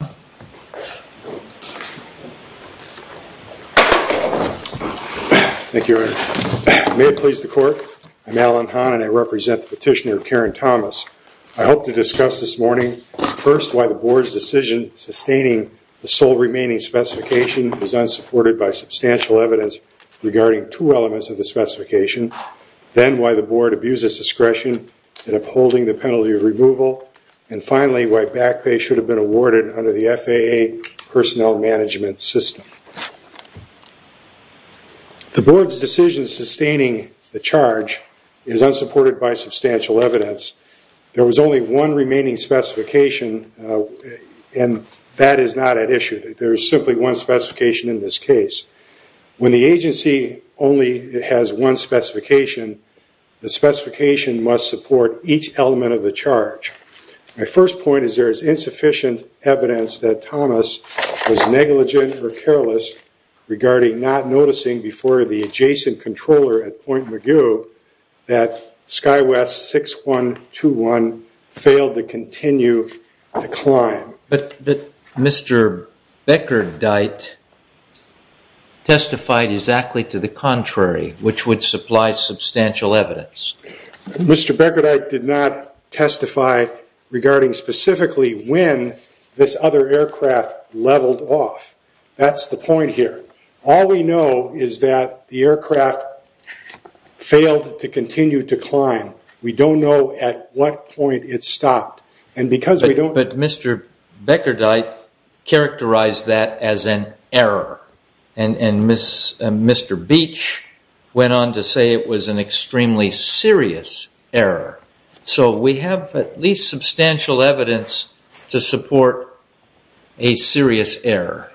Thank you, Your Honor. May it please the Court, I'm Alan Hahn and I represent the petitioner Karen Thomas. I hope to discuss this morning, first, why the Board's decision sustaining the sole remaining specification is unsupported by substantial evidence regarding two elements of the specification, then why the Board abuses discretion in upholding the penalty of removal, and finally, why back pay should have been awarded under the FAA personnel management system. The Board's decision sustaining the charge is unsupported by substantial evidence. There was only one remaining specification and that is not at issue. There is simply one specification in this case. When the agency only has one specification, the specification must support each element of the charge. My first point is there is insufficient evidence that Thomas was negligent or careless regarding not noticing before the adjacent controller at Point Mugu that SkyWest 6-1-2-1 failed to continue to climb. But Mr. Beckerdyte testified exactly to contrary, which would supply substantial evidence. Mr. Beckerdyte did not testify regarding specifically when this other aircraft leveled off. That's the point here. All we know is that the aircraft failed to continue to climb. We don't know at what point it stopped. But Mr. Beckerdyte characterized that as an error. And Mr. Beach went on to say it was an extremely serious error. So we have at least substantial evidence to support a serious error.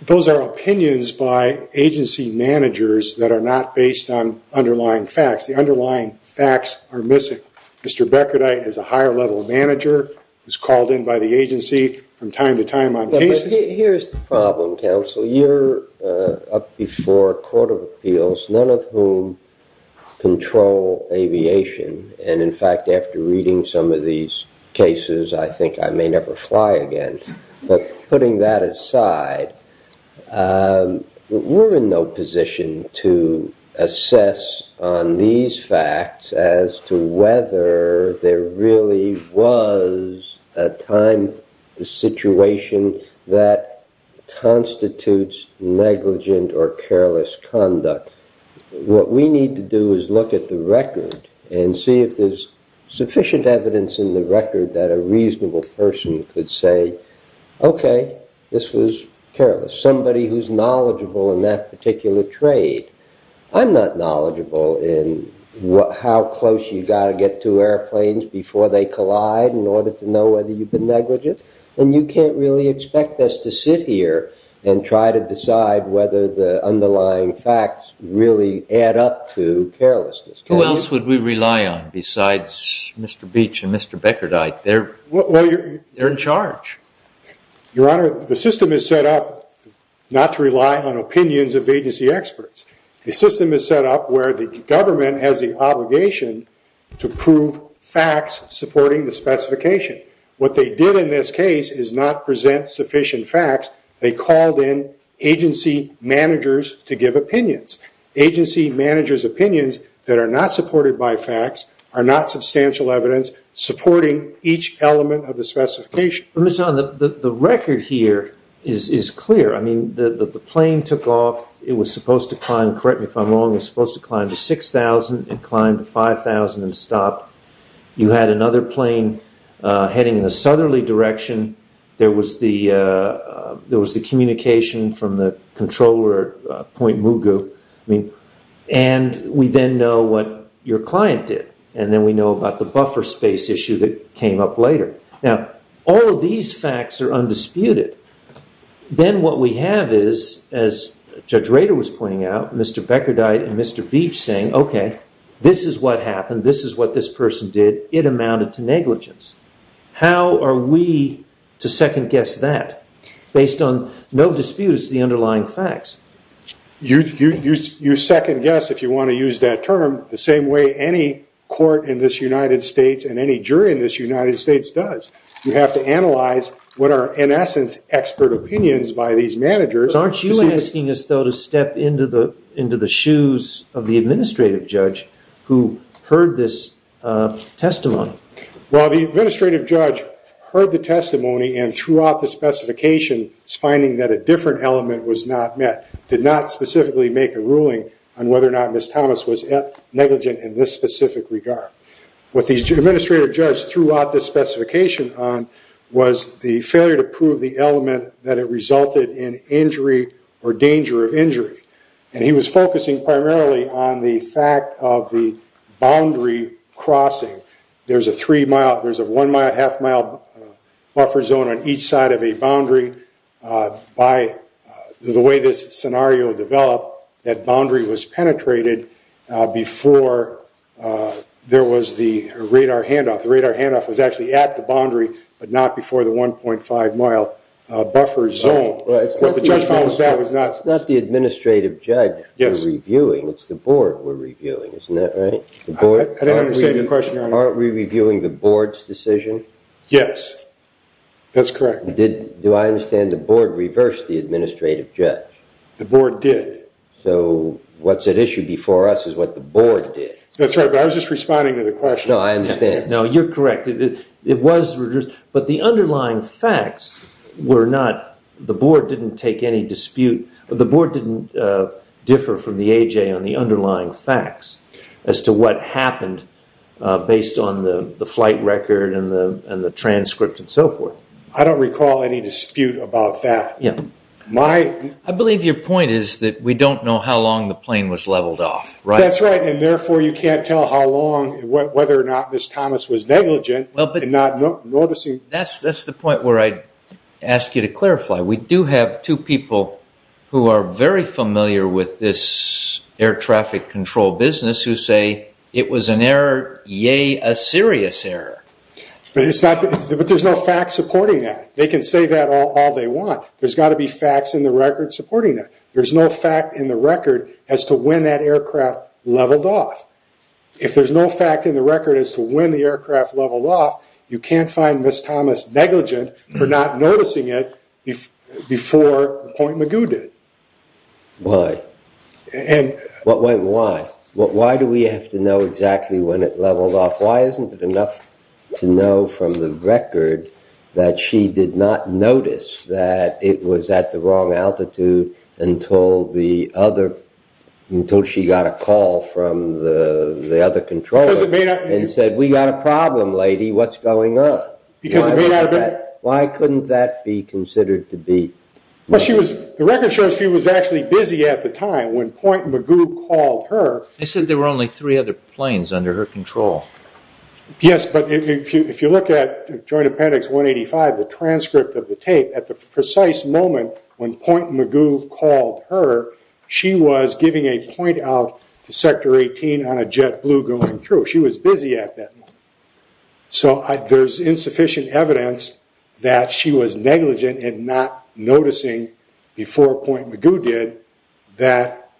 Those are opinions by agency managers that are not based on underlying facts. The underlying facts are missing. Mr. Beckerdyte is a higher level manager. He was called in by the agency from time to time on cases. Here's the problem, counsel. You're up before a court of appeals, none of whom control aviation. And in fact, after reading some of these cases, I think I may never fly again. But putting that aside, we're in no position to assess on these facts as to whether there really was a time, a situation that constitutes negligent or careless conduct. What we need to do is look at the record and see if there's sufficient evidence in the record that a reasonable person could say, okay, this was careless. Somebody who's knowledgeable in that order to know whether you've been negligent. And you can't really expect us to sit here and try to decide whether the underlying facts really add up to carelessness. Who else would we rely on besides Mr. Beach and Mr. Beckerdyte? They're in charge. Your Honor, the system is set up not to rely on opinions of agency experts. The system is set up where the government has the obligation to prove facts supporting the specification. What they did in this case is not present sufficient facts. They called in agency managers to give opinions. Agency managers' opinions that are not supported by facts are not substantial evidence supporting each element of the specification. The record here is clear. I mean, the plane took off. It was supposed to climb, correct me if I'm wrong, it was supposed to climb to 6,000 and climb to 5,000 and stop. You had another plane heading in the southerly direction. There was the communication from the controller at Point Mugu. And we then know what your client did. And then we know about the buffer space issue that came up later. Now, all of these facts are undisputed. Then what we have is, as Judge Rader was pointing out, Mr. Beckerdyte and Mr. Beach saying, OK, this is what happened. This is what this person did. It amounted to negligence. How are we to second guess that based on no disputes to the underlying facts? You second guess, if you want to use that term, the same way any court in this United States and any jury in this United States does. You have to analyze what are, in essence, expert opinions by these managers. Aren't you asking us, though, to step into the shoes of the administrative judge who heard this testimony? Well, the administrative judge heard the testimony and throughout the specification was finding that a different element was not met, did not specifically make a ruling on whether or not Ms. Thomas was negligent in this specific regard. What the administrative judge threw out this specification on was the failure to prove the element that it resulted in injury or danger of injury. And he was focusing primarily on the fact of the boundary crossing. There's a three-mile, there's a one-mile, half-mile buffer zone on each side of a boundary. By the way this scenario developed that boundary was penetrated before there was the radar handoff. The radar handoff was actually at the boundary, but not before the 1.5-mile buffer zone. But the judge found that was not... It's not the administrative judge we're reviewing, it's the board we're reviewing, isn't that right? I didn't understand your question, Your Honor. Aren't we reviewing the board's decision? Yes, that's correct. Do I understand the board reversed the administrative judge? The board did. So what's at issue before us is what the board did. That's right, but I was just responding to the question. No, I understand. No, you're correct. It was reversed, but the underlying facts were not... The board didn't take any dispute... The board didn't differ from the AJ on the underlying facts as to what happened based on the flight record and the transcript and so forth. I don't recall any dispute about that. I believe your point is that we don't know how long the plane was leveled off, right? That's right, and therefore you can't tell how long, whether or not Ms. Thomas was negligent in not noticing... That's the point where I'd ask you to clarify. We do have two people who are very familiar with this air traffic control business who say it was an error, a serious error. But there's no fact supporting that. They can say that all they want. There's got to be facts in the record supporting that. There's no fact in the record as to when that aircraft leveled off. If there's no fact in the record as to when the aircraft leveled off, you can't find Ms. Thomas negligent for not noticing it before Point Magoo did. Why? Why do we have to know exactly when it leveled off? Why isn't it enough to know from the record that she did not notice that it was at the wrong altitude until she got a call from the other controller and said, we got a problem lady, what's going on? Why couldn't that be considered to be... Well, the record service was actually busy at the time when Point Magoo called her. They said there were only three other planes under her control. Yes, but if you look at Joint Appendix 185, the transcript of the tape, at the precise moment when Point Magoo called her, she was giving a point out to sector 18 on a jet blue going through. She was busy at that moment. So there's insufficient evidence that she was negligent and not noticing before Point Magoo did that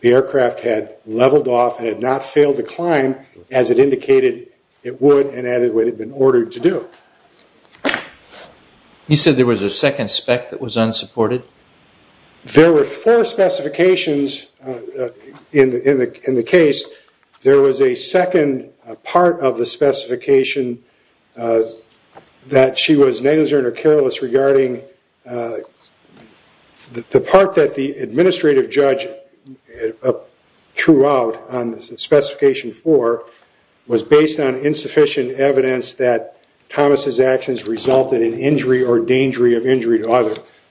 the aircraft had leveled off and had not failed to climb as it indicated it would and as it had been ordered to do. You said there was a second spec that was unsupported? There were four specifications in the case. There was a second part of the specification that she was negligent or careless regarding the part that the administrative judge threw out on the specification four was based on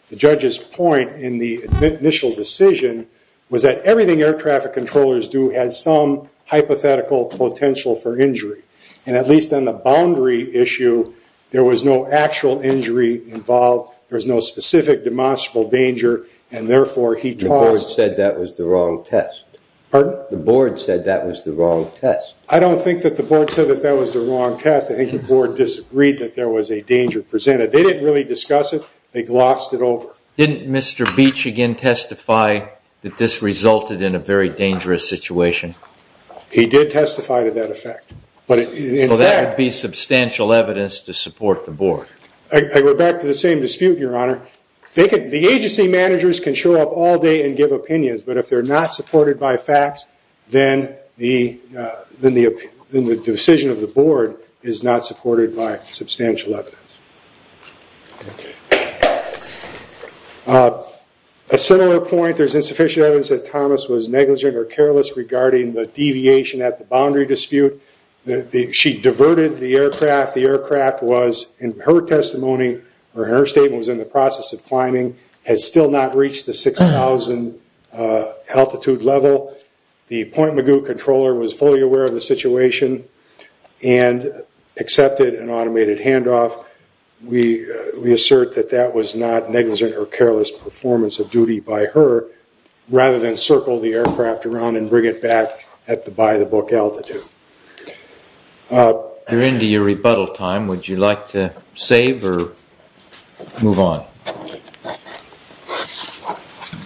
the judge's point in the initial decision was that everything air traffic controllers do has some hypothetical potential for injury and at least on the boundary issue there was no actual injury involved. There was no specific demonstrable danger and therefore he... The board said that was the wrong test. Pardon? The board said that was the wrong test. I don't think that the board said that that was the wrong test. I think the board disagreed that there was a danger presented. They didn't really discuss it. They glossed it over. Didn't Mr. Beach again testify that this resulted in a very dangerous situation? He did testify to that effect. But that would be substantial evidence to support the board. I go back to the same dispute your honor. The agency managers can show up all day and give opinions but if they're not supported by facts then the decision of the board is not supported by substantial evidence. A similar point there's insufficient evidence that Thomas was negligent or careless regarding the deviation at the boundary dispute. She diverted the aircraft. The aircraft was in her testimony or her statement was in the process of climbing has still not reached the 6,000 altitude level. The Point Magoo controller was fully aware of the situation and accepted an automated handoff. We assert that that was not negligent or careless performance of duty by her rather than circle the aircraft around and bring it back at the by the book altitude. You're into your rebuttal time. Would you like to save or move on?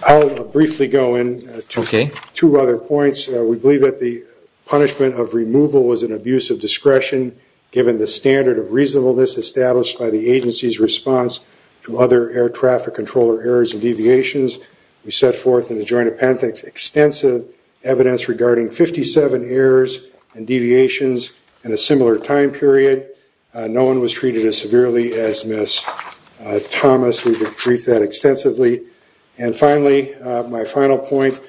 I'll briefly go in to two other points. We believe that the punishment of removal was an abuse of discretion given the standard of reasonableness established by the agency's response to other air traffic controller errors and deviations. We set forth in the joint appendix extensive evidence regarding 57 errors and deviations in a similar time period. No one was treated as severely as Miss Thomas. We've agreed that extensively and finally my final point.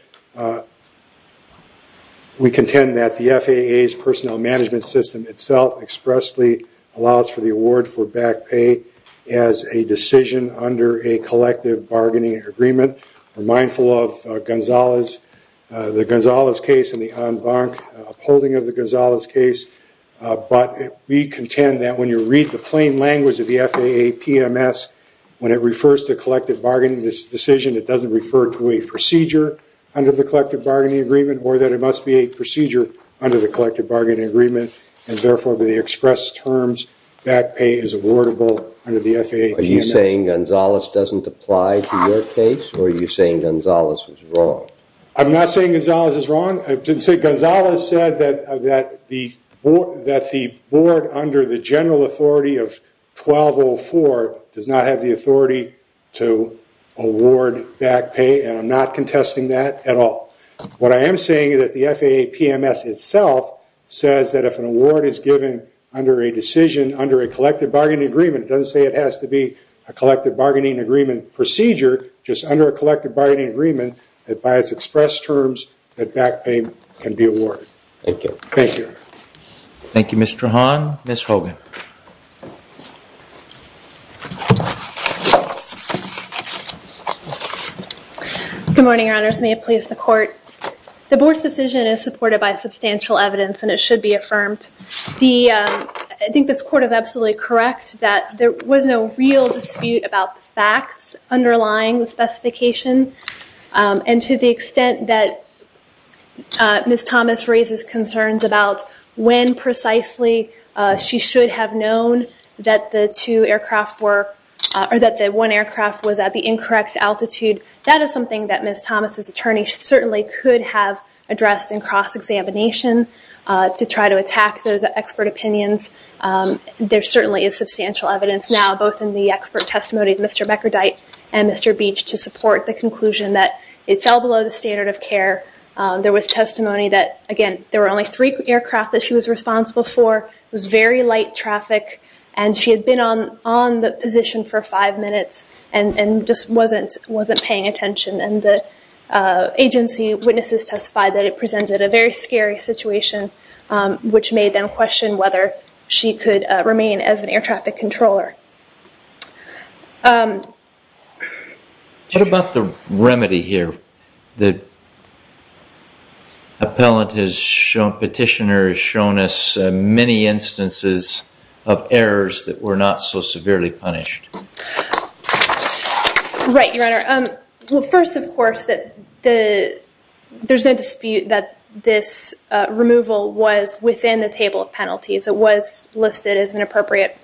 We contend that the FAA's personnel management system itself expressly allows for the award for back pay as a decision under a collective bargaining agreement. We're mindful of Gonzalez the Gonzalez case and the on-bank upholding of the Gonzalez case but we contend that when you read the plain language of the FAA PMS when it refers to collective bargaining this decision it doesn't refer to a procedure under the collective bargaining agreement or that it must be a procedure under the collective bargaining agreement and therefore the expressed terms back pay is awardable under the FAA. Are you saying Gonzalez doesn't apply to your case or are you saying Gonzalez was wrong? I'm not saying Gonzalez is wrong. I didn't say Gonzalez said that the board under the general authority of 1204 does not have the authority to award back pay and I'm not contesting that at all. What I am saying is that the FAA PMS itself says that if an award is given under a decision under a collective bargaining agreement it doesn't say it has to be a collective bargaining agreement procedure just under a collective bargaining agreement that by its expressed terms that back pay can be awarded. Thank you. Thank you Mr. Hahn. Ms. Hogan. Good morning your honors. May it please the court. The board's decision is supported by substantial evidence and it should be affirmed. I think this court is absolutely correct that there was no real dispute about the facts underlying the specification and to the extent that Ms. Thomas raises concerns about when precisely she should have known that the two aircraft were or that the one aircraft was at the incorrect altitude. That is something that Ms. Thomas's attorney certainly could have addressed in cross-examination to try to attack those expert opinions. There certainly is substantial evidence now both in the expert testimony of Mr. Meckerdyte and Mr. Beach to support the conclusion that it fell below the standard of care. There was testimony that again there were only three aircraft that she was responsible for. It was very light traffic and she had been on the position for five minutes and just wasn't paying attention and the agency witnesses testified that it presented a very scary situation which made them question whether she could remain as an air traffic controller. What about the remedy here? The appellant has shown, petitioner has shown us many instances of errors that were not so severely punished. Right, Your Honor. First, of course, there's no dispute that this removal was within the table of penalties. It was listed as an appropriate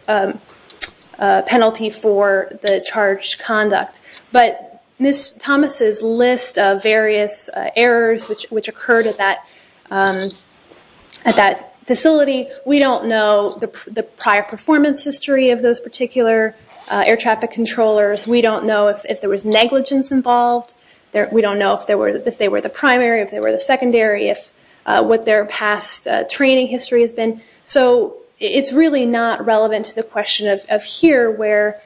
penalty for the charged conduct but Ms. Thomas's list of various errors which occurred at that facility, we don't know the prior performance history of those particular air traffic controllers. We don't know if there was negligence involved. We don't know if they were the primary, if they were the secondary, what their past training history has been. It's really not relevant to the question of here where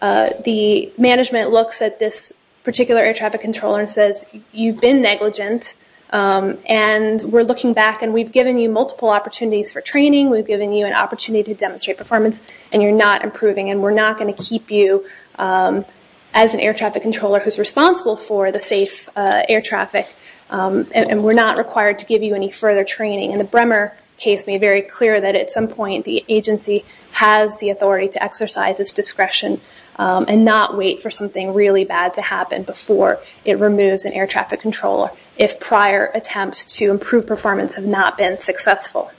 the management looks at this particular air traffic controller and says you've been negligent and we're looking back and we've given you multiple opportunities for training. We've given you an error and you're not improving and we're not going to keep you as an air traffic controller who's responsible for the safe air traffic and we're not required to give you any further training. The Bremer case made very clear that at some point the agency has the authority to exercise its discretion and not wait for something really bad to happen before it removes an air traffic controller if prior attempts to improve performance have not been successful.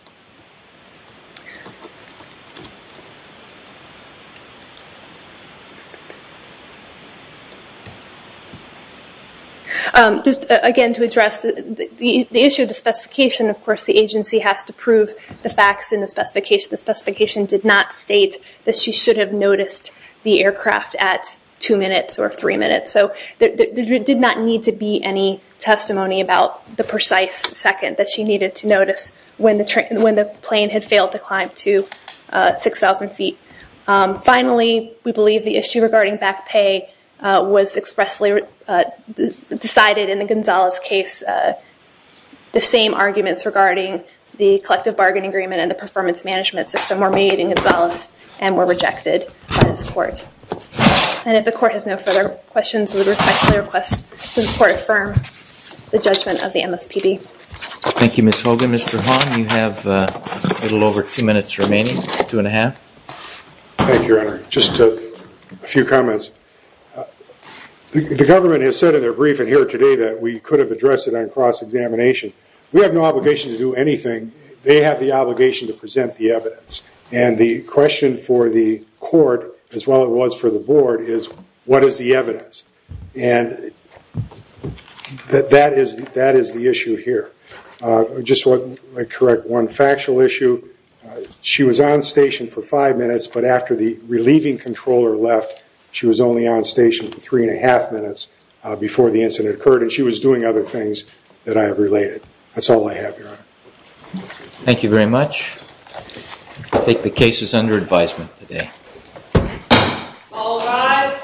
Just again to address the issue of the specification of course the agency has to prove the facts in the specification. The specification did not state that she should have noticed the aircraft at two minutes or three minutes. There did not need to be any testimony about the precise second that she needed to notice when the plane had failed to climb to 6,000 feet. Finally we believe the issue regarding back pay was expressly decided in the Gonzalez case. The same arguments regarding the collective bargain agreement and the performance management system were made in Gonzalez and were rejected by this court. And if the court has no further questions with respect to the request the court affirm the judgment of the MSPB. Thank you Ms. Hogan. Mr. Hahn you have a little over two minutes remaining, two and a half. Thank you your honor, just a few comments. The government has said in their briefing here today that we could have addressed it on cross examination. We have no obligation to do anything, they have the obligation to present the evidence. And the question for the court as well as it was for the board is what is the evidence? And that is the issue here. Just to correct one factual issue, she was on station for five minutes but after the relieving controller left she was only on station for three and a half minutes before the incident occurred and she was doing other things that I have related. That's all I have your honor. Thank you very much. I take the case as under advisement today. All rise.